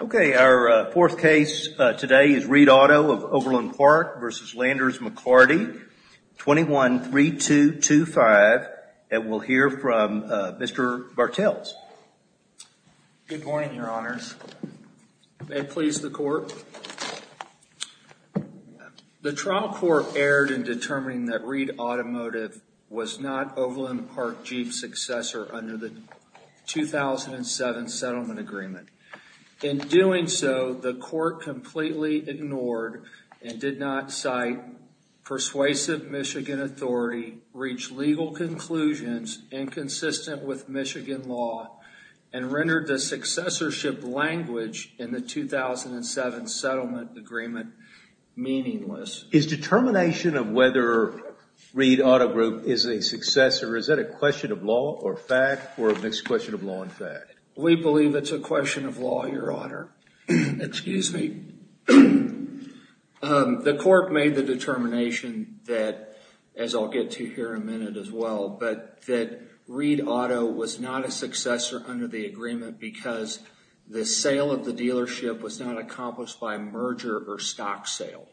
Okay, our fourth case today is Reed Auto of Overland Park v. Landers McLarty, 21-3225, and we'll hear from Mr. Bartels. Good morning, your honors. May it please the court. The trial court erred in determining that Reed Automotive was not Overland Park Jeep's successor under the 2007 settlement agreement. In doing so, the court completely ignored and did not cite persuasive Michigan authority, reached legal conclusions inconsistent with Michigan law, and rendered the successorship language in the 2007 settlement agreement meaningless. Is determination of whether Reed Auto Group is a successor, is that a question of law or fact, or a mixed question of law and fact? We believe it's a question of law, your honor. Excuse me. The court made the determination that, as I'll get to here in a minute as well, that Reed Auto was not a successor under the agreement because the sale of the dealership was not accomplished by merger or stock sale.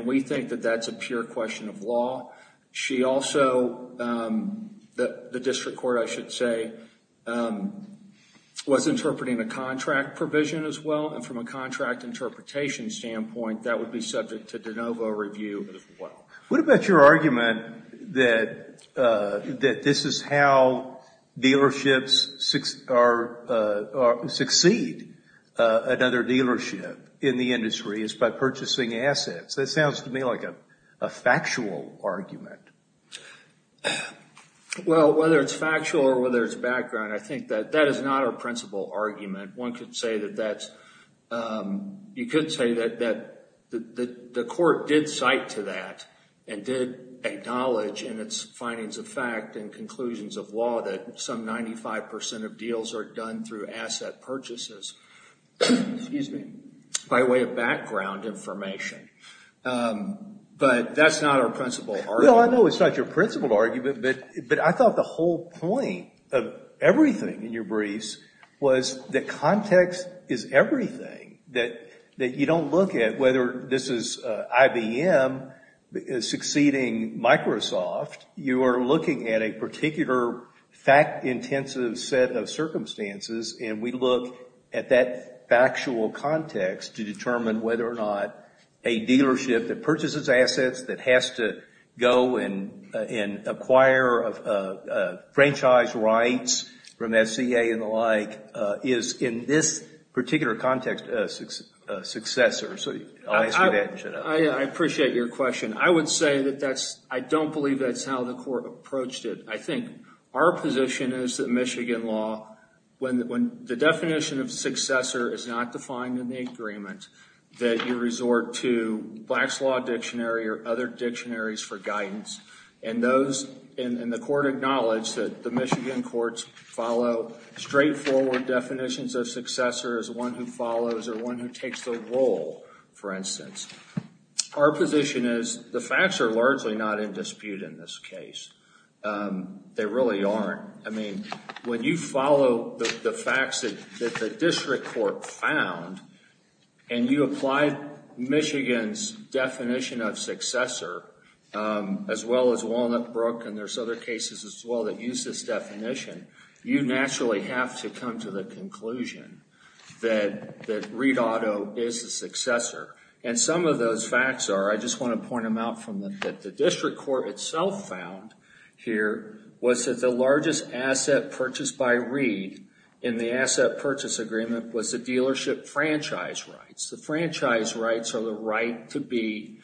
We think that that's a pure question of law. She also, the district court I should say, was interpreting a contract provision as well, and from a contract interpretation standpoint, that would be subject to de novo review as well. What about your argument that this is how dealerships succeed another dealership in the industry is by purchasing assets? That sounds to me like a factual argument. Well, whether it's factual or whether it's background, I think that that is not our principal argument. One could say that that's, you could say that the court did cite to that and did acknowledge in its findings of fact and conclusions of law that some 95% of deals are done through asset purchases, excuse me, by way of background information, but that's not our principal argument. No, I know it's not your principal argument, but I thought the whole point of everything in your briefs was that context is everything, that you don't look at whether this is IBM succeeding Microsoft. You are looking at a particular fact-intensive set of circumstances, and we look at that factual context to determine whether or not a dealership that purchases assets that has to go and acquire franchise rights from SCA and the like is in this particular context a successor. So, I'll answer that and shut up. I appreciate your question. I would say that that's, I don't believe that's how the court approached it. I think our position is that Michigan law, when the definition of successor is not defined in the agreement, that you resort to Black's Law Dictionary or other dictionaries for guidance, and those, and the court acknowledged that the Michigan courts follow straightforward definitions of successor as one who follows or one who takes the role, for instance. Our position is, the facts are largely not in dispute in this case. They really aren't. I mean, when you follow the facts that the district court found, and you apply Michigan's definition of successor, as well as Walnut Brook, and there's other cases as well that use this definition, you naturally have to come to the conclusion that Reed Auto is the successor. Some of those facts are, I just want to point them out from the, that the district court itself found here was that the largest asset purchased by Reed in the asset purchase agreement was the dealership franchise rights. The franchise rights are the right to be,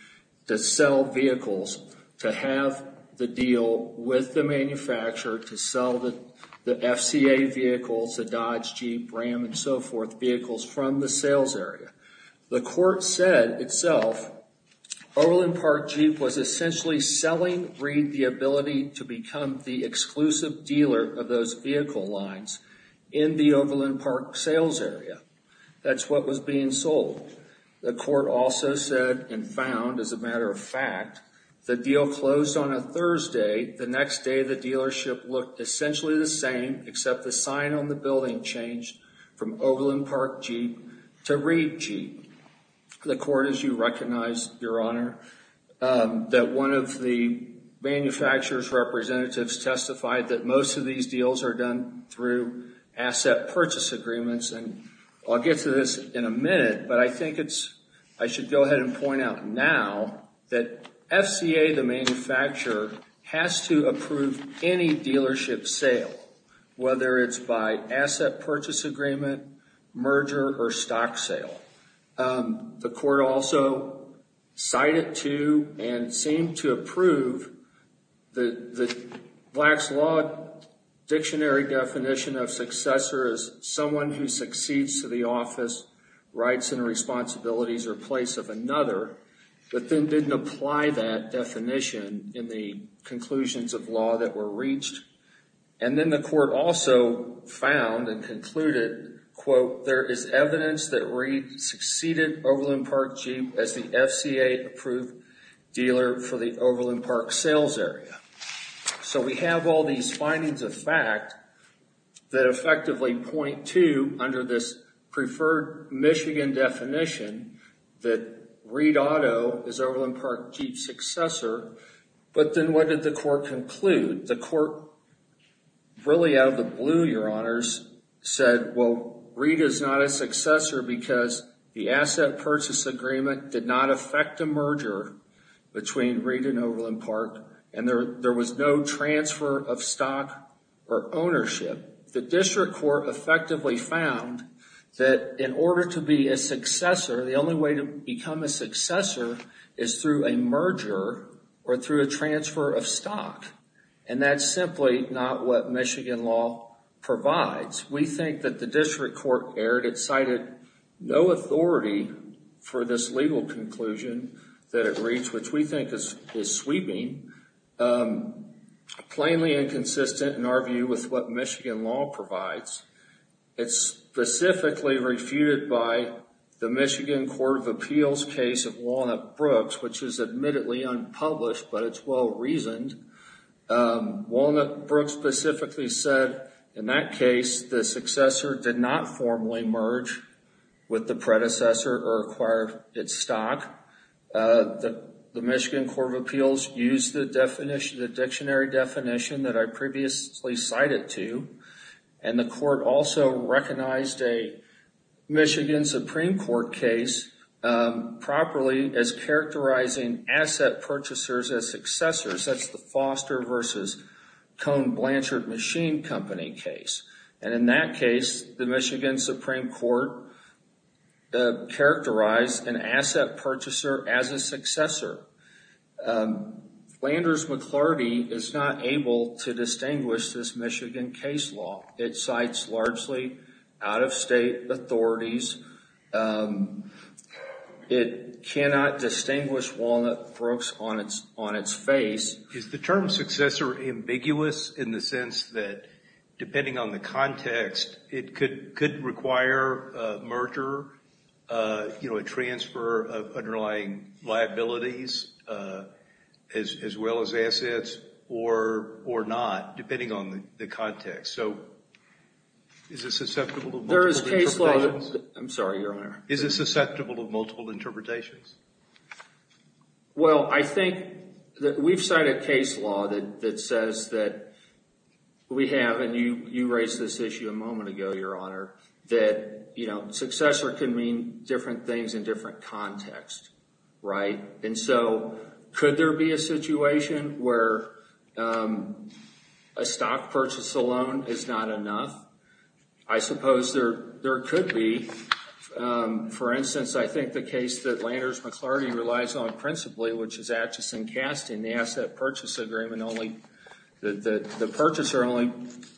to sell vehicles, to have the deal with the manufacturer to sell the FCA vehicles, the Dodge, Jeep, Ram, and so forth, vehicles from the sales area. The court said itself, Overland Park Jeep was essentially selling Reed the ability to become the exclusive dealer of those vehicle lines in the Overland Park sales area. That's what was being sold. The court also said and found, as a matter of fact, the deal closed on a Thursday. The next day, the dealership looked essentially the same, except the sign on the building changed from Overland Park Jeep to Reed Jeep. The court, as you recognize, Your Honor, that one of the manufacturer's representatives testified that most of these deals are done through asset purchase agreements, and I'll get to this in a minute, but I think it's, I should go ahead and point out now that FCA, the manufacturer, has to approve any dealership sale, whether it's by asset purchase agreement, merger, or stock sale. The court also cited to and seemed to approve the Black's Law Dictionary definition of successor as someone who succeeds to the office, rights, and responsibilities, or place of another, but then didn't apply that definition in the conclusions of law that were reached. And then the court also found and concluded, quote, there is evidence that Reed succeeded Overland Park Jeep as the FCA approved dealer for the Overland Park sales area. So we have all these findings of fact that effectively point to, under this preferred Michigan definition, that Reed Auto is Overland Park Jeep's successor, but then what did the court conclude? The court, really out of the blue, Your Honors, said, well, Reed is not a successor because the asset purchase agreement did not affect a merger between Reed and Overland Park, and there was no transfer of stock or ownership. The district court effectively found that in order to be a successor, the only way to become a successor is through a merger or through a transfer of stock, and that's simply not what Michigan law provides. We think that the district court erred. It cited no authority for this legal conclusion that it reached, which we think is sweeping, plainly inconsistent in our view with what Michigan law provides. It's specifically refuted by the Michigan Court of Appeals case of Walnut Brooks, which is admittedly unpublished, but it's well-reasoned. Walnut Brooks specifically said in that case, the successor did not formally merge with the predecessor or acquire its stock. The Michigan Court of Appeals used the dictionary definition that I previously cited to, and the court also recognized a Michigan Supreme Court case properly as characterizing asset purchasers as successors. That's the Foster versus Cone Blanchard Machine Company case, and in that case, the Michigan purchaser as a successor. Landers-McClarty is not able to distinguish this Michigan case law. It cites largely out-of-state authorities. It cannot distinguish Walnut Brooks on its face. Is the term successor ambiguous in the sense that, depending on the context, it could require a merger, a transfer of underlying liabilities, as well as assets, or not, depending on the context? So, is it susceptible to multiple interpretations? Is it susceptible to multiple interpretations? Well, I think that we've cited case law that says that we have, and you raised this issue a moment ago, Your Honor, that successor can mean different things in different contexts. And so, could there be a situation where a stock purchase alone is not enough? I suppose there could be. For instance, I think the case that Landers-McClarty relies on principally, which is Atchison-Kast in the asset purchase agreement, the purchaser only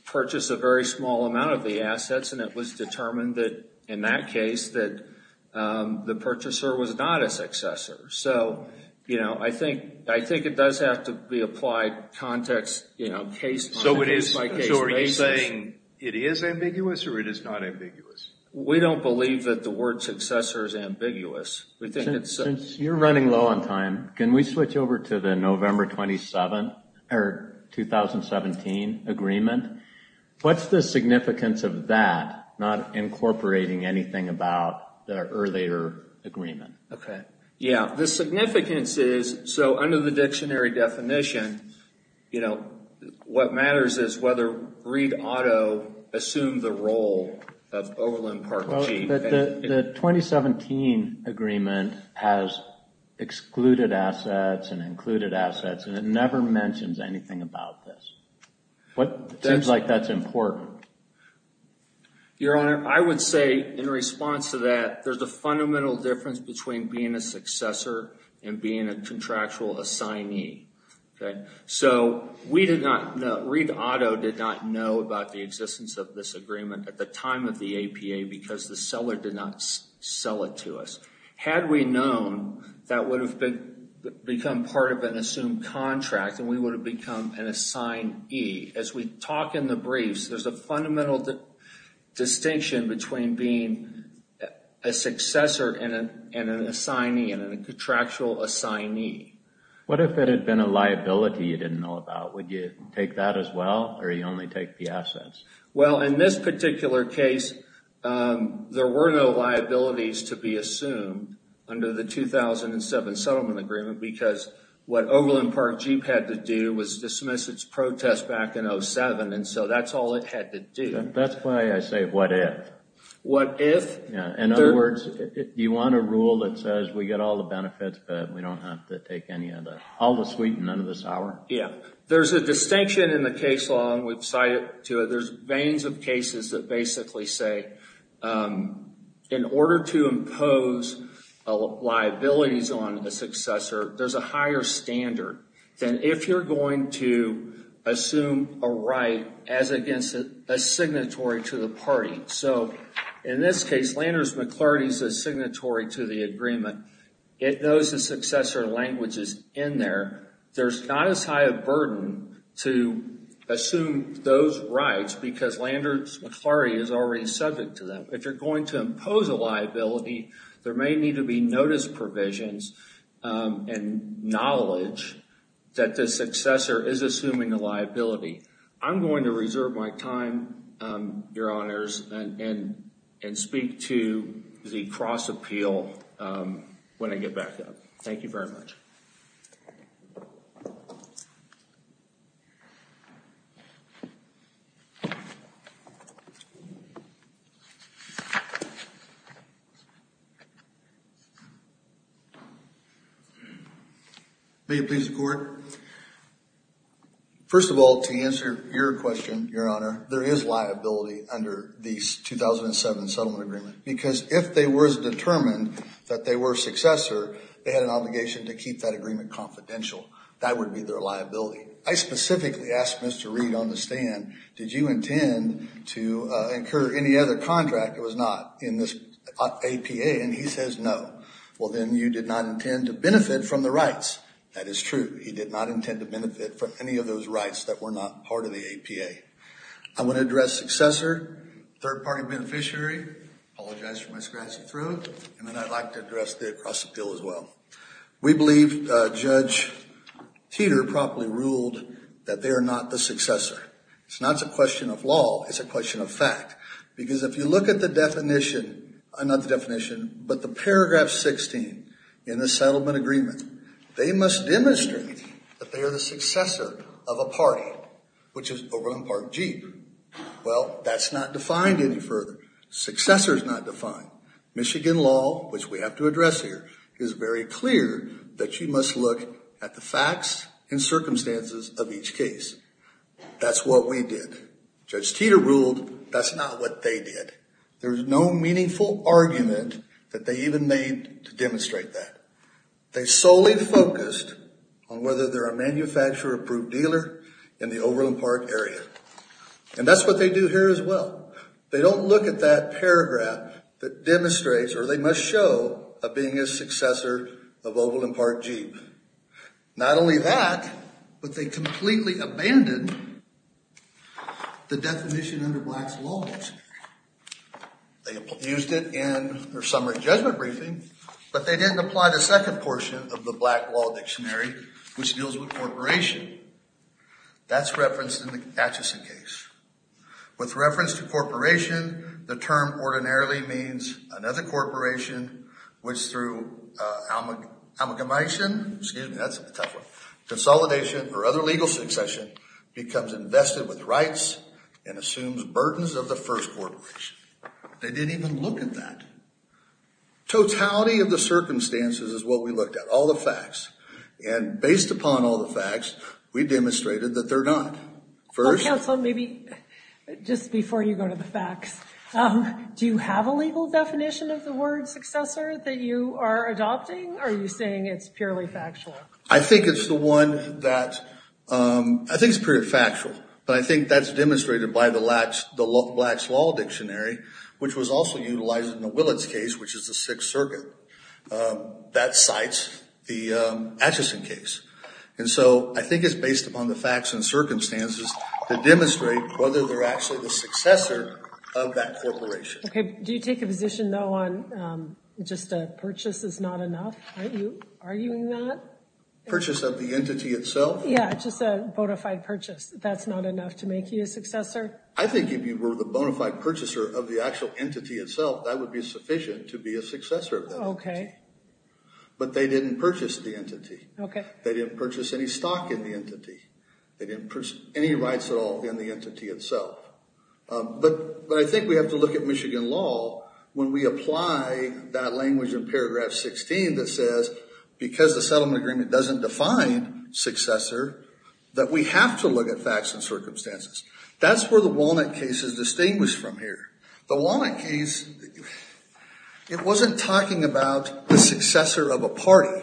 purchased a very small amount of the assets, and it was determined that, in that case, that the purchaser was not a successor. So, you know, I think it does have to be applied context, you know, case-by-case basis. So, are you saying it is ambiguous, or it is not ambiguous? We don't believe that the word successor is ambiguous. Since you're running low on time, can we switch over to the November 27, or 2017, agreement? What's the significance of that not incorporating anything about the earlier agreement? Okay. Yeah. The significance is, so under the dictionary definition, you know, what matters is whether Reed Auto assumed the role of Overland Park Chief. The 2017 agreement has excluded assets and included assets, and it never mentions anything about this. It seems like that's important. Your Honor, I would say, in response to that, there's a fundamental difference between being a successor and being a contractual assignee, okay? So, Reed Auto did not know about the existence of this agreement at the time of the APA, because the seller did not sell it to us. Had we known, that would have become part of an assumed contract, and we would have become an assignee. As we talk in the briefs, there's a fundamental distinction between being a successor and an assignee, and a contractual assignee. What if it had been a liability you didn't know about? Would you take that as well, or you only take the assets? Well, in this particular case, there were no liabilities to be assumed under the 2007 settlement agreement, because what Overland Park Chief had to do was dismiss its protest back in 07, and so that's all it had to do. That's why I say, what if. What if? Yeah, in other words, you want a rule that says, we get all the benefits, but we don't have to take any of the, all the sweet and none of the sour? Yeah. There's a distinction in the case law, and we've cited to it. There's veins of cases that basically say, in order to impose liabilities on a successor, there's a higher standard than if you're going to assume a right as against a signatory to the party. So, in this case, Landers-McClarty's a signatory to the agreement. It knows the successor language is in there. There's not as high a burden to assume those rights, because Landers-McClarty is already subject to them. If you're going to impose a liability, there may need to be notice provisions and knowledge that the successor is assuming a liability. I'm going to reserve my time, Your Honors, and speak to the cross-appeal when I get back up. Thank you very much. May it please the Court? First of all, to answer your question, Your Honor, there is liability under the 2007 settlement agreement, because if they were as determined that they were a successor, they had an obligation to keep that agreement confidential. That would be their liability. I specifically asked Mr. Reid on the stand, did you intend to incur any other contract that was not in this APA? And he says no. Well, then you did not intend to benefit from the rights. That is true. He did not intend to benefit from any of those rights that were not part of the APA. I want to address successor, third-party beneficiary, apologize for my scratchy throat, and then I'd like to address the cross-appeal as well. We believe Judge Teeter properly ruled that they are not the successor. It's not a question of law, it's a question of fact. Because if you look at the definition, not the definition, but the paragraph 16 in the settlement agreement, they must demonstrate that they are the successor of a party, which is Overland Park Jeep. Well, that's not defined any further. Successor is not defined. Michigan law, which we have to address here, is very clear that you must look at the facts and circumstances of each case. That's what we did. Judge Teeter ruled that's not what they did. There's no meaningful argument that they even made to demonstrate that. They solely focused on whether they're a manufacturer or a brute dealer in the Overland Park area. And that's what they do here as well. They don't look at that paragraph that demonstrates, or they must show, of being a successor of Overland Park Jeep. Not only that, but they completely abandoned the definition under Black's Law Dictionary. They used it in their summary judgment briefing, but they didn't apply the second portion of the Black Law Dictionary, which deals with corporation. That's referenced in the Atchison case. With reference to corporation, the term ordinarily means another corporation, which through amalgamation, excuse me, that's a tough one, consolidation or other legal succession, becomes invested with rights and assumes burdens of the first corporation. They didn't even look at that. Totality of the circumstances is what we looked at, all the facts. And based upon all the facts, we demonstrated that they're not. First... Well, counsel, maybe just before you go to the facts, do you have a legal definition of the word successor that you are adopting, or are you saying it's purely factual? I think it's the one that, I think it's pretty factual, but I think that's demonstrated by the Black's Law Dictionary, which was also utilized in the Willits case, which is the Sixth Circuit. That cites the Atchison case. And so I think it's based upon the facts and circumstances to demonstrate whether they're actually the successor of that corporation. Okay, do you take a position, though, on just a purchase is not enough? Are you arguing that? Purchase of the entity itself? Yeah, just a bona fide purchase. That's not enough to make you a successor? I think if you were the bona fide purchaser of the actual entity itself, that would be sufficient to be a successor of that entity. But they didn't purchase the entity. They didn't purchase any stock in the entity. They didn't purchase any rights at all in the entity itself. But I think we have to look at Michigan law when we apply that language in paragraph 16 that says, because the settlement agreement doesn't define successor, that we have to look at facts and circumstances. That's where the Walnut case is distinguished from here. The Walnut case, it wasn't talking about the successor of a party.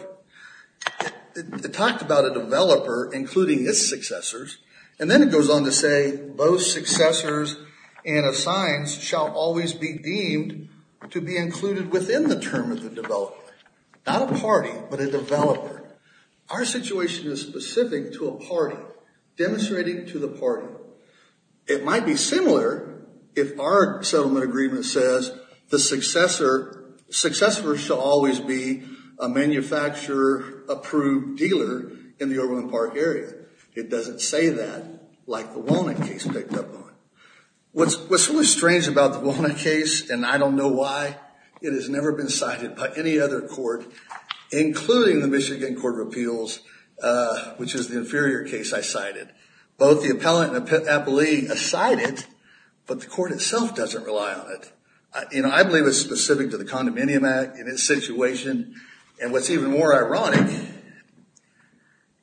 It talked about a developer, including its successors. And then it goes on to say, both successors and assigns shall always be deemed to be included within the term of the developer. Not a party, but a developer. Our situation is specific to a party, demonstrating to the party. It might be similar if our settlement agreement says the successor shall always be a manufacturer approved dealer in the Overland Park area. It doesn't say that like the Walnut case picked up on. What's really strange about the Walnut case, and I don't know why, it has never been cited by any other court, including the Michigan Court of Appeals, which is the inferior case I cited. Both the appellate and the appellee cite it, but the court itself doesn't rely on it. I believe it's specific to the Condominium Act and its situation. And what's even more ironic,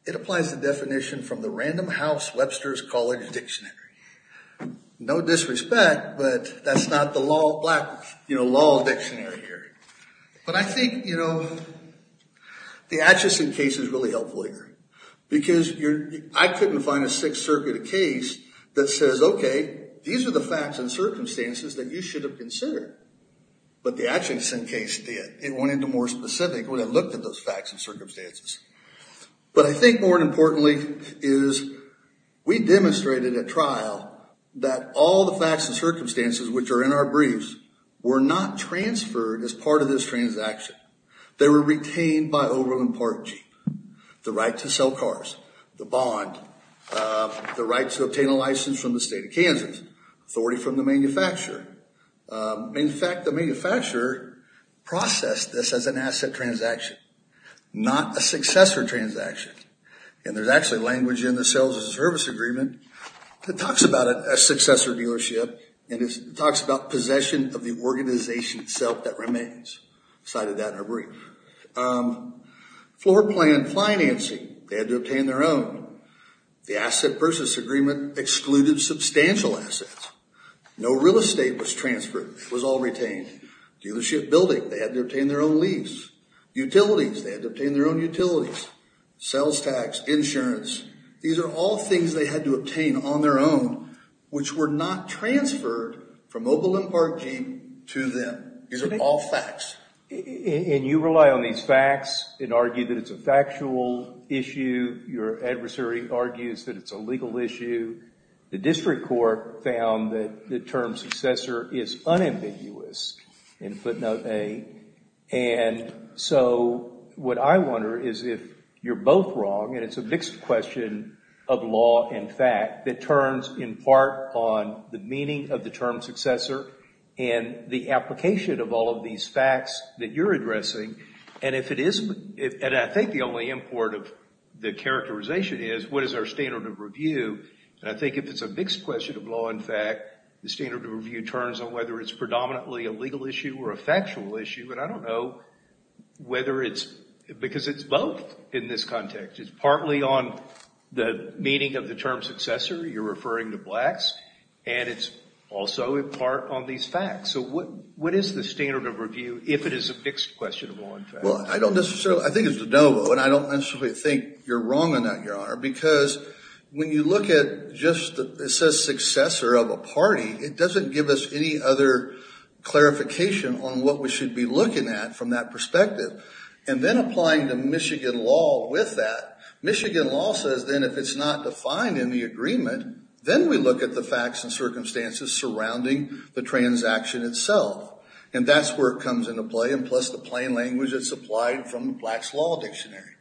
it applies the definition from the Random House Webster's College Dictionary. No disrespect, but that's not the law, black law dictionary here. But I think the Atchison case is really helpful here. Because I couldn't find a Sixth Circuit case that says, okay, these are the facts and circumstances that you should have considered. But the Atchison case did. It went into more specific when it looked at those facts and circumstances. But I think more importantly is we demonstrated at trial that all the facts and circumstances which are in our briefs were not transferred as part of this transaction. They were retained by Overland Park Jeep, the right to sell cars, the bond, the right to obtain a license from the state of Kansas, authority from the manufacturer. In fact, the manufacturer processed this as an asset transaction, not a successor transaction. And there's actually language in the Sales and Service Agreement that talks about a successor dealership and it talks about possession of the organization itself that remains. Cited that in our brief. Floor plan financing, they had to obtain their own. The Asset Purchase Agreement excluded substantial assets. No real estate was transferred, it was all retained. Dealership building, they had to obtain their own lease. Utilities, they had to obtain their own utilities. Sales tax, insurance, these are all things they had to obtain on their own, which were not transferred from Overland Park Jeep to them. These are all facts. And you rely on these facts and argue that it's a factual issue. Your adversary argues that it's a legal issue. The district court found that the term successor is unambiguous in footnote A. And so what I wonder is if you're both wrong and it's a mixed question of law and fact that turns in part on the meaning of the term successor and the application of all of these facts that you're addressing. And if it isn't, and I think the only import of the characterization is, what is our standard of review? And I think if it's a mixed question of law and fact, the standard of review turns on whether it's predominantly a legal issue or a factual issue. And I don't know whether it's, because it's both in this context. It's partly on the meaning of the term successor. You're referring to blacks. And it's also in part on these facts. So what is the standard of review if it is a mixed question of law and fact? Well, I don't necessarily, I think it's de novo, and I don't necessarily think you're wrong on that, Your Honor, because when you look at just, it says successor of a party, it doesn't give us any other clarification on what we should be looking at from that perspective. And then applying the Michigan law with that, Michigan law says then if it's not defined in the agreement, then we look at the facts and circumstances surrounding the transaction itself. And that's where it comes into play, and plus the plain language that's applied from the Blacks Law Dictionary.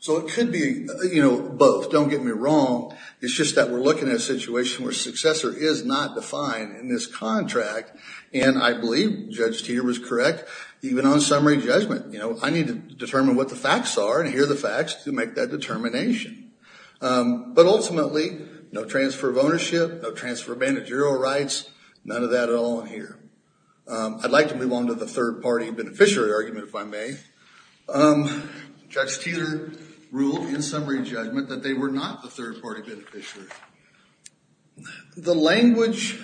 So it could be, you know, both. Don't get me wrong. It's just that we're looking at a situation where successor is not defined in this contract, and I believe Judge Teeter was correct, even on summary judgment, you know, I need to determine what the facts are and hear the facts to make that determination. But ultimately, no transfer of ownership, no transfer of managerial rights, none of that at all in here. I'd like to move on to the third party beneficiary argument, if I may. Judge Teeter ruled in summary judgment that they were not the third party beneficiary. The language,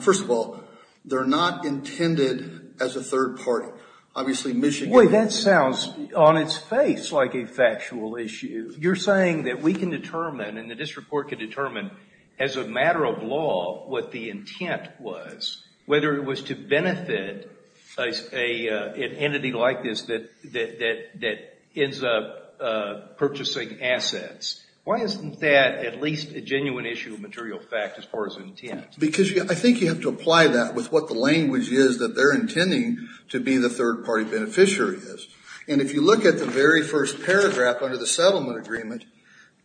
first of all, they're not intended as a third party. Obviously Michigan... Wait, that sounds on its face like a factual issue. You're saying that we can determine, and the district court can determine, as a matter of law, what the intent was. Whether it was to benefit an entity like this that ends up purchasing assets. Why isn't that at least a genuine issue of material fact as far as intent? Because I think you have to apply that with what the language is that they're intending to be the third party beneficiary is. And if you look at the very first paragraph under the settlement agreement,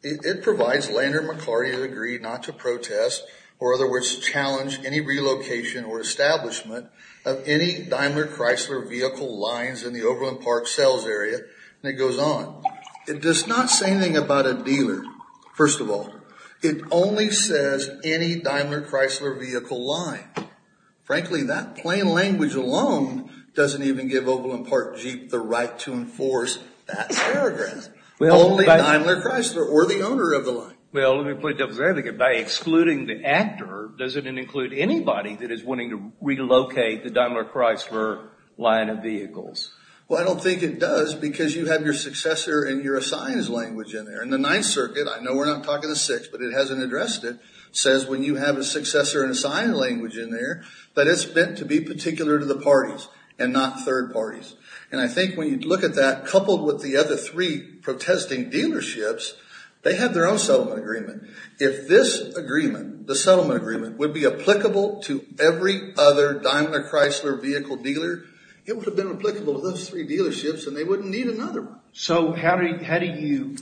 it provides Leonard McCarty agreed not to protest, or other words, challenge any relocation or establishment of any Daimler Chrysler vehicle lines in the Overland Park sales area. And it goes on. It does not say anything about a dealer, first of all. It only says any Daimler Chrysler vehicle line. Frankly, that plain language alone doesn't even give Overland Park Jeep the right to enforce that paragraph. Only Daimler Chrysler, or the owner of the line. Well, let me put it this way. By excluding the actor, does it include anybody that is wanting to relocate the Daimler Chrysler line of vehicles? Well, I don't think it does, because you have your successor and your assigned language in there. And the Ninth Circuit, I know we're not talking the Sixth, but it hasn't addressed it, says when you have a successor and assigned language in there, that it's meant to be particular to the parties, and not third parties. And I think when you look at that, coupled with the other three protesting dealerships, they have their own settlement agreement. If this agreement, the settlement agreement, would be applicable to every other Daimler Chrysler vehicle dealer, it would have been applicable to those three dealerships, and they wouldn't need another one. So how are you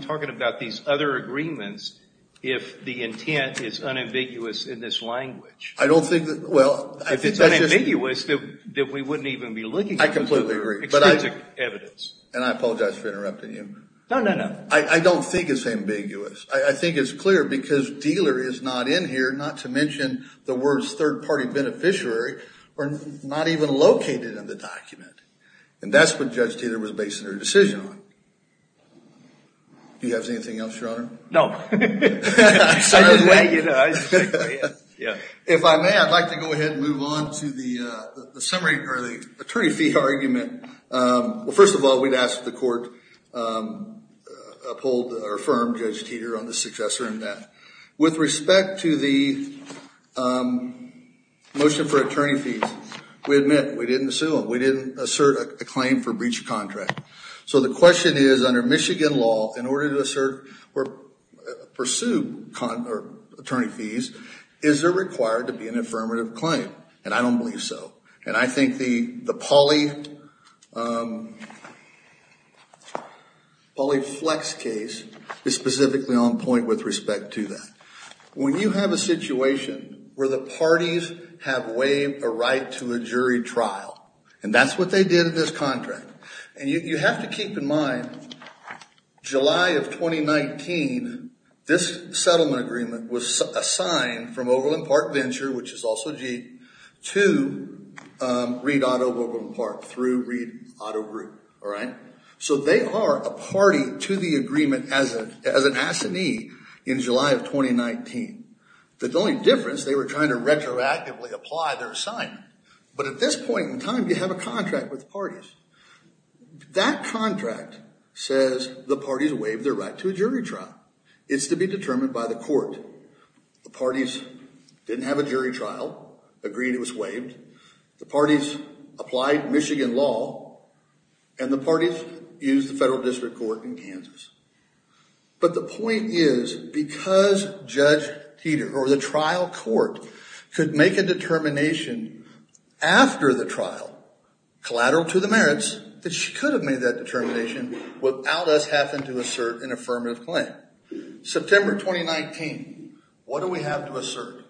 talking about these other agreements if the intent is unambiguous in this language? I don't think that, well, I think that's just... If it's unambiguous, then we wouldn't even be looking for it. I completely agree. But I... Exclusive evidence. And I apologize for interrupting you. No, no, no. I don't think it's ambiguous. I think it's clear, because dealer is not in here, not to mention the words third party beneficiary, are not even located in the document. And that's what Judge Teter was basing her decision on. Do you have anything else, Your Honor? No. I didn't know, you know. I just... Yeah. If I may, I'd like to go ahead and move on to the summary, or the attorney fee argument. Well, first of all, we'd ask that the court uphold or affirm Judge Teter on the successor in that. With respect to the motion for attorney fees, we admit, we didn't assume. We didn't assert a claim for breach of contract. So the question is, under Michigan law, in order to assert or pursue attorney fees, is there required to be an affirmative claim? And I don't believe so. And I think the Pauly Flex case is specifically on point with respect to that. When you have a situation where the parties have waived a right to a jury trial, and that's what they did in this contract. And you have to keep in mind, July of 2019, this settlement agreement was assigned from Overland Park Venture, which is also Jeep, to Reed Auto of Overland Park through Reed Auto Group. All right? So they are a party to the agreement as an assignee in July of 2019. The only difference, they were trying to retroactively apply their assignment. But at this point in time, you have a contract with the parties. That contract says the parties waived their right to a jury trial. It's to be determined by the court. The parties didn't have a jury trial, agreed it was waived. The parties applied Michigan law. And the parties used the federal district court in Kansas. But the point is, because Judge Teeter, or the trial court, could make a determination after the trial, collateral to the merits, that she could have made that determination without us having to assert an affirmative claim. September 2019, what do we have to assert?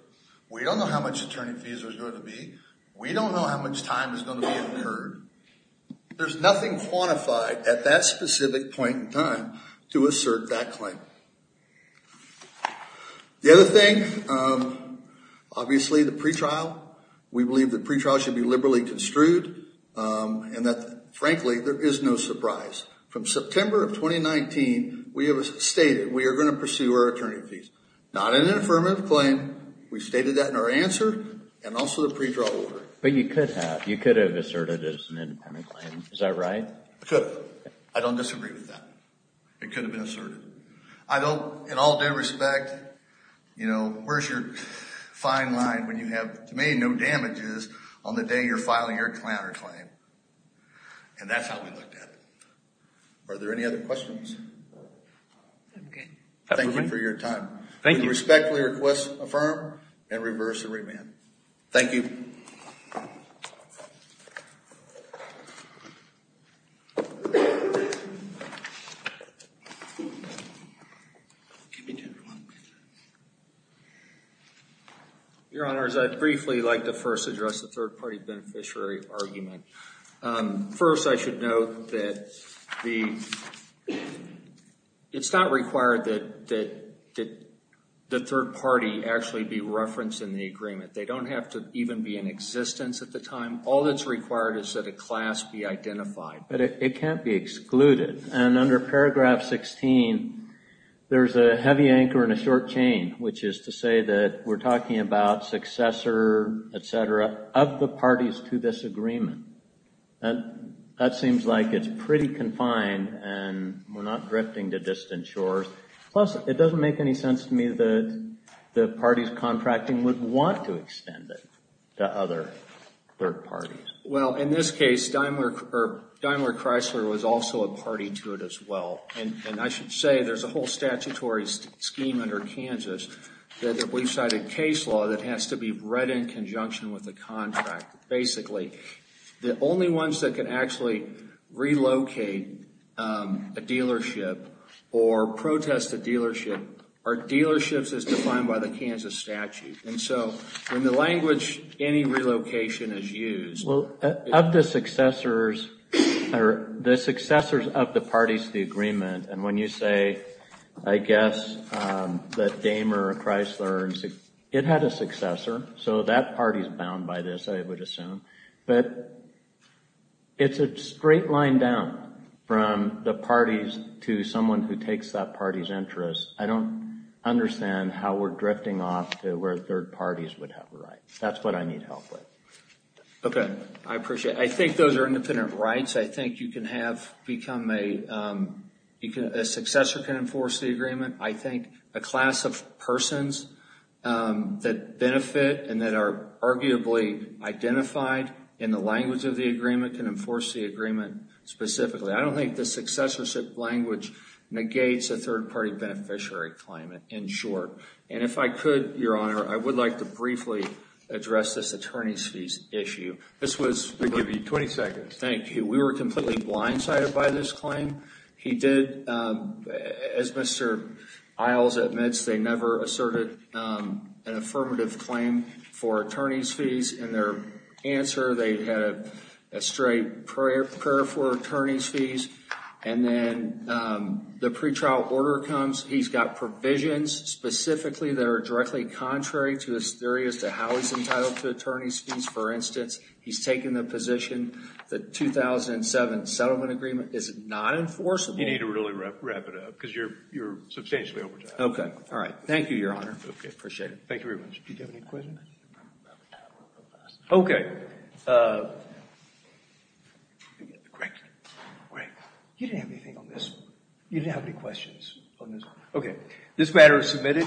We don't know how much attorney fees there's going to be. We don't know how much time is going to be incurred. There's nothing quantified at that specific point in time to assert that claim. The other thing, obviously, the pretrial. We believe the pretrial should be liberally construed and that, frankly, there is no surprise. From September of 2019, we have stated we are going to pursue our attorney fees. Not an affirmative claim. We've stated that in our answer and also the pretrial order. But you could have. You could have asserted it as an independent claim. Is that right? I could have. I don't disagree with that. It could have been asserted. I don't, in all due respect, you know, where's your fine line when you have, to me, no damages on the day you're filing your counterclaim? And that's how we looked at it. Are there any other questions? Okay. Thank you for your time. Thank you. We respectfully request, affirm, and reverse the remand. Thank you. Your Honors, I'd briefly like to first address the third-party beneficiary argument. First, I should note that the, it's not required that the third party actually be referenced in the agreement. They don't have to even be in existence at the time. All that's required is that a class be identified. But it can't be excluded. And under paragraph 16, there's a heavy anchor and a short chain, which is to say that we're parties to this agreement. That seems like it's pretty confined and we're not drifting to distant shores. Plus, it doesn't make any sense to me that the parties contracting would want to extend it to other third parties. Well, in this case, Daimler Chrysler was also a party to it as well. And I should say, there's a whole statutory scheme under Kansas that we've cited case law that has to be read in conjunction with the contract. Basically, the only ones that can actually relocate a dealership or protest a dealership are dealerships as defined by the Kansas statute. And so, in the language, any relocation is used. Well, of the successors, or the successors of the parties to the agreement, and when you say, I guess, that Daimler Chrysler, it had a successor. So that party is bound by this, I would assume. But it's a straight line down from the parties to someone who takes that party's interest. I don't understand how we're drifting off to where third parties would have a right. That's what I need help with. Okay. I appreciate it. I think those are independent rights. I think you can have become a, a successor can enforce the agreement. I think a class of persons that benefit and that are arguably identified in the language of the agreement can enforce the agreement specifically. I don't think the successorship language negates a third party beneficiary claim, in short. And if I could, Your Honor, I would like to briefly address this attorney's fees issue. This was, We'll give you 20 seconds. Okay. Thank you. We were completely blindsided by this claim. He did, as Mr. Isles admits, they never asserted an affirmative claim for attorney's fees. In their answer, they had a straight prayer for attorney's fees. And then the pretrial order comes, he's got provisions specifically that are directly contrary to his theory as to how he's entitled to attorney's fees, for instance. He's taken the position that the 2007 settlement agreement is not enforceable. You need to really wrap it up, because you're, you're substantially over time. Okay. All right. Thank you, Your Honor. Okay. Appreciate it. Thank you very much. Do you have any questions? Okay. Great. Great. You didn't have any questions on this one. Okay. This matter is submitted.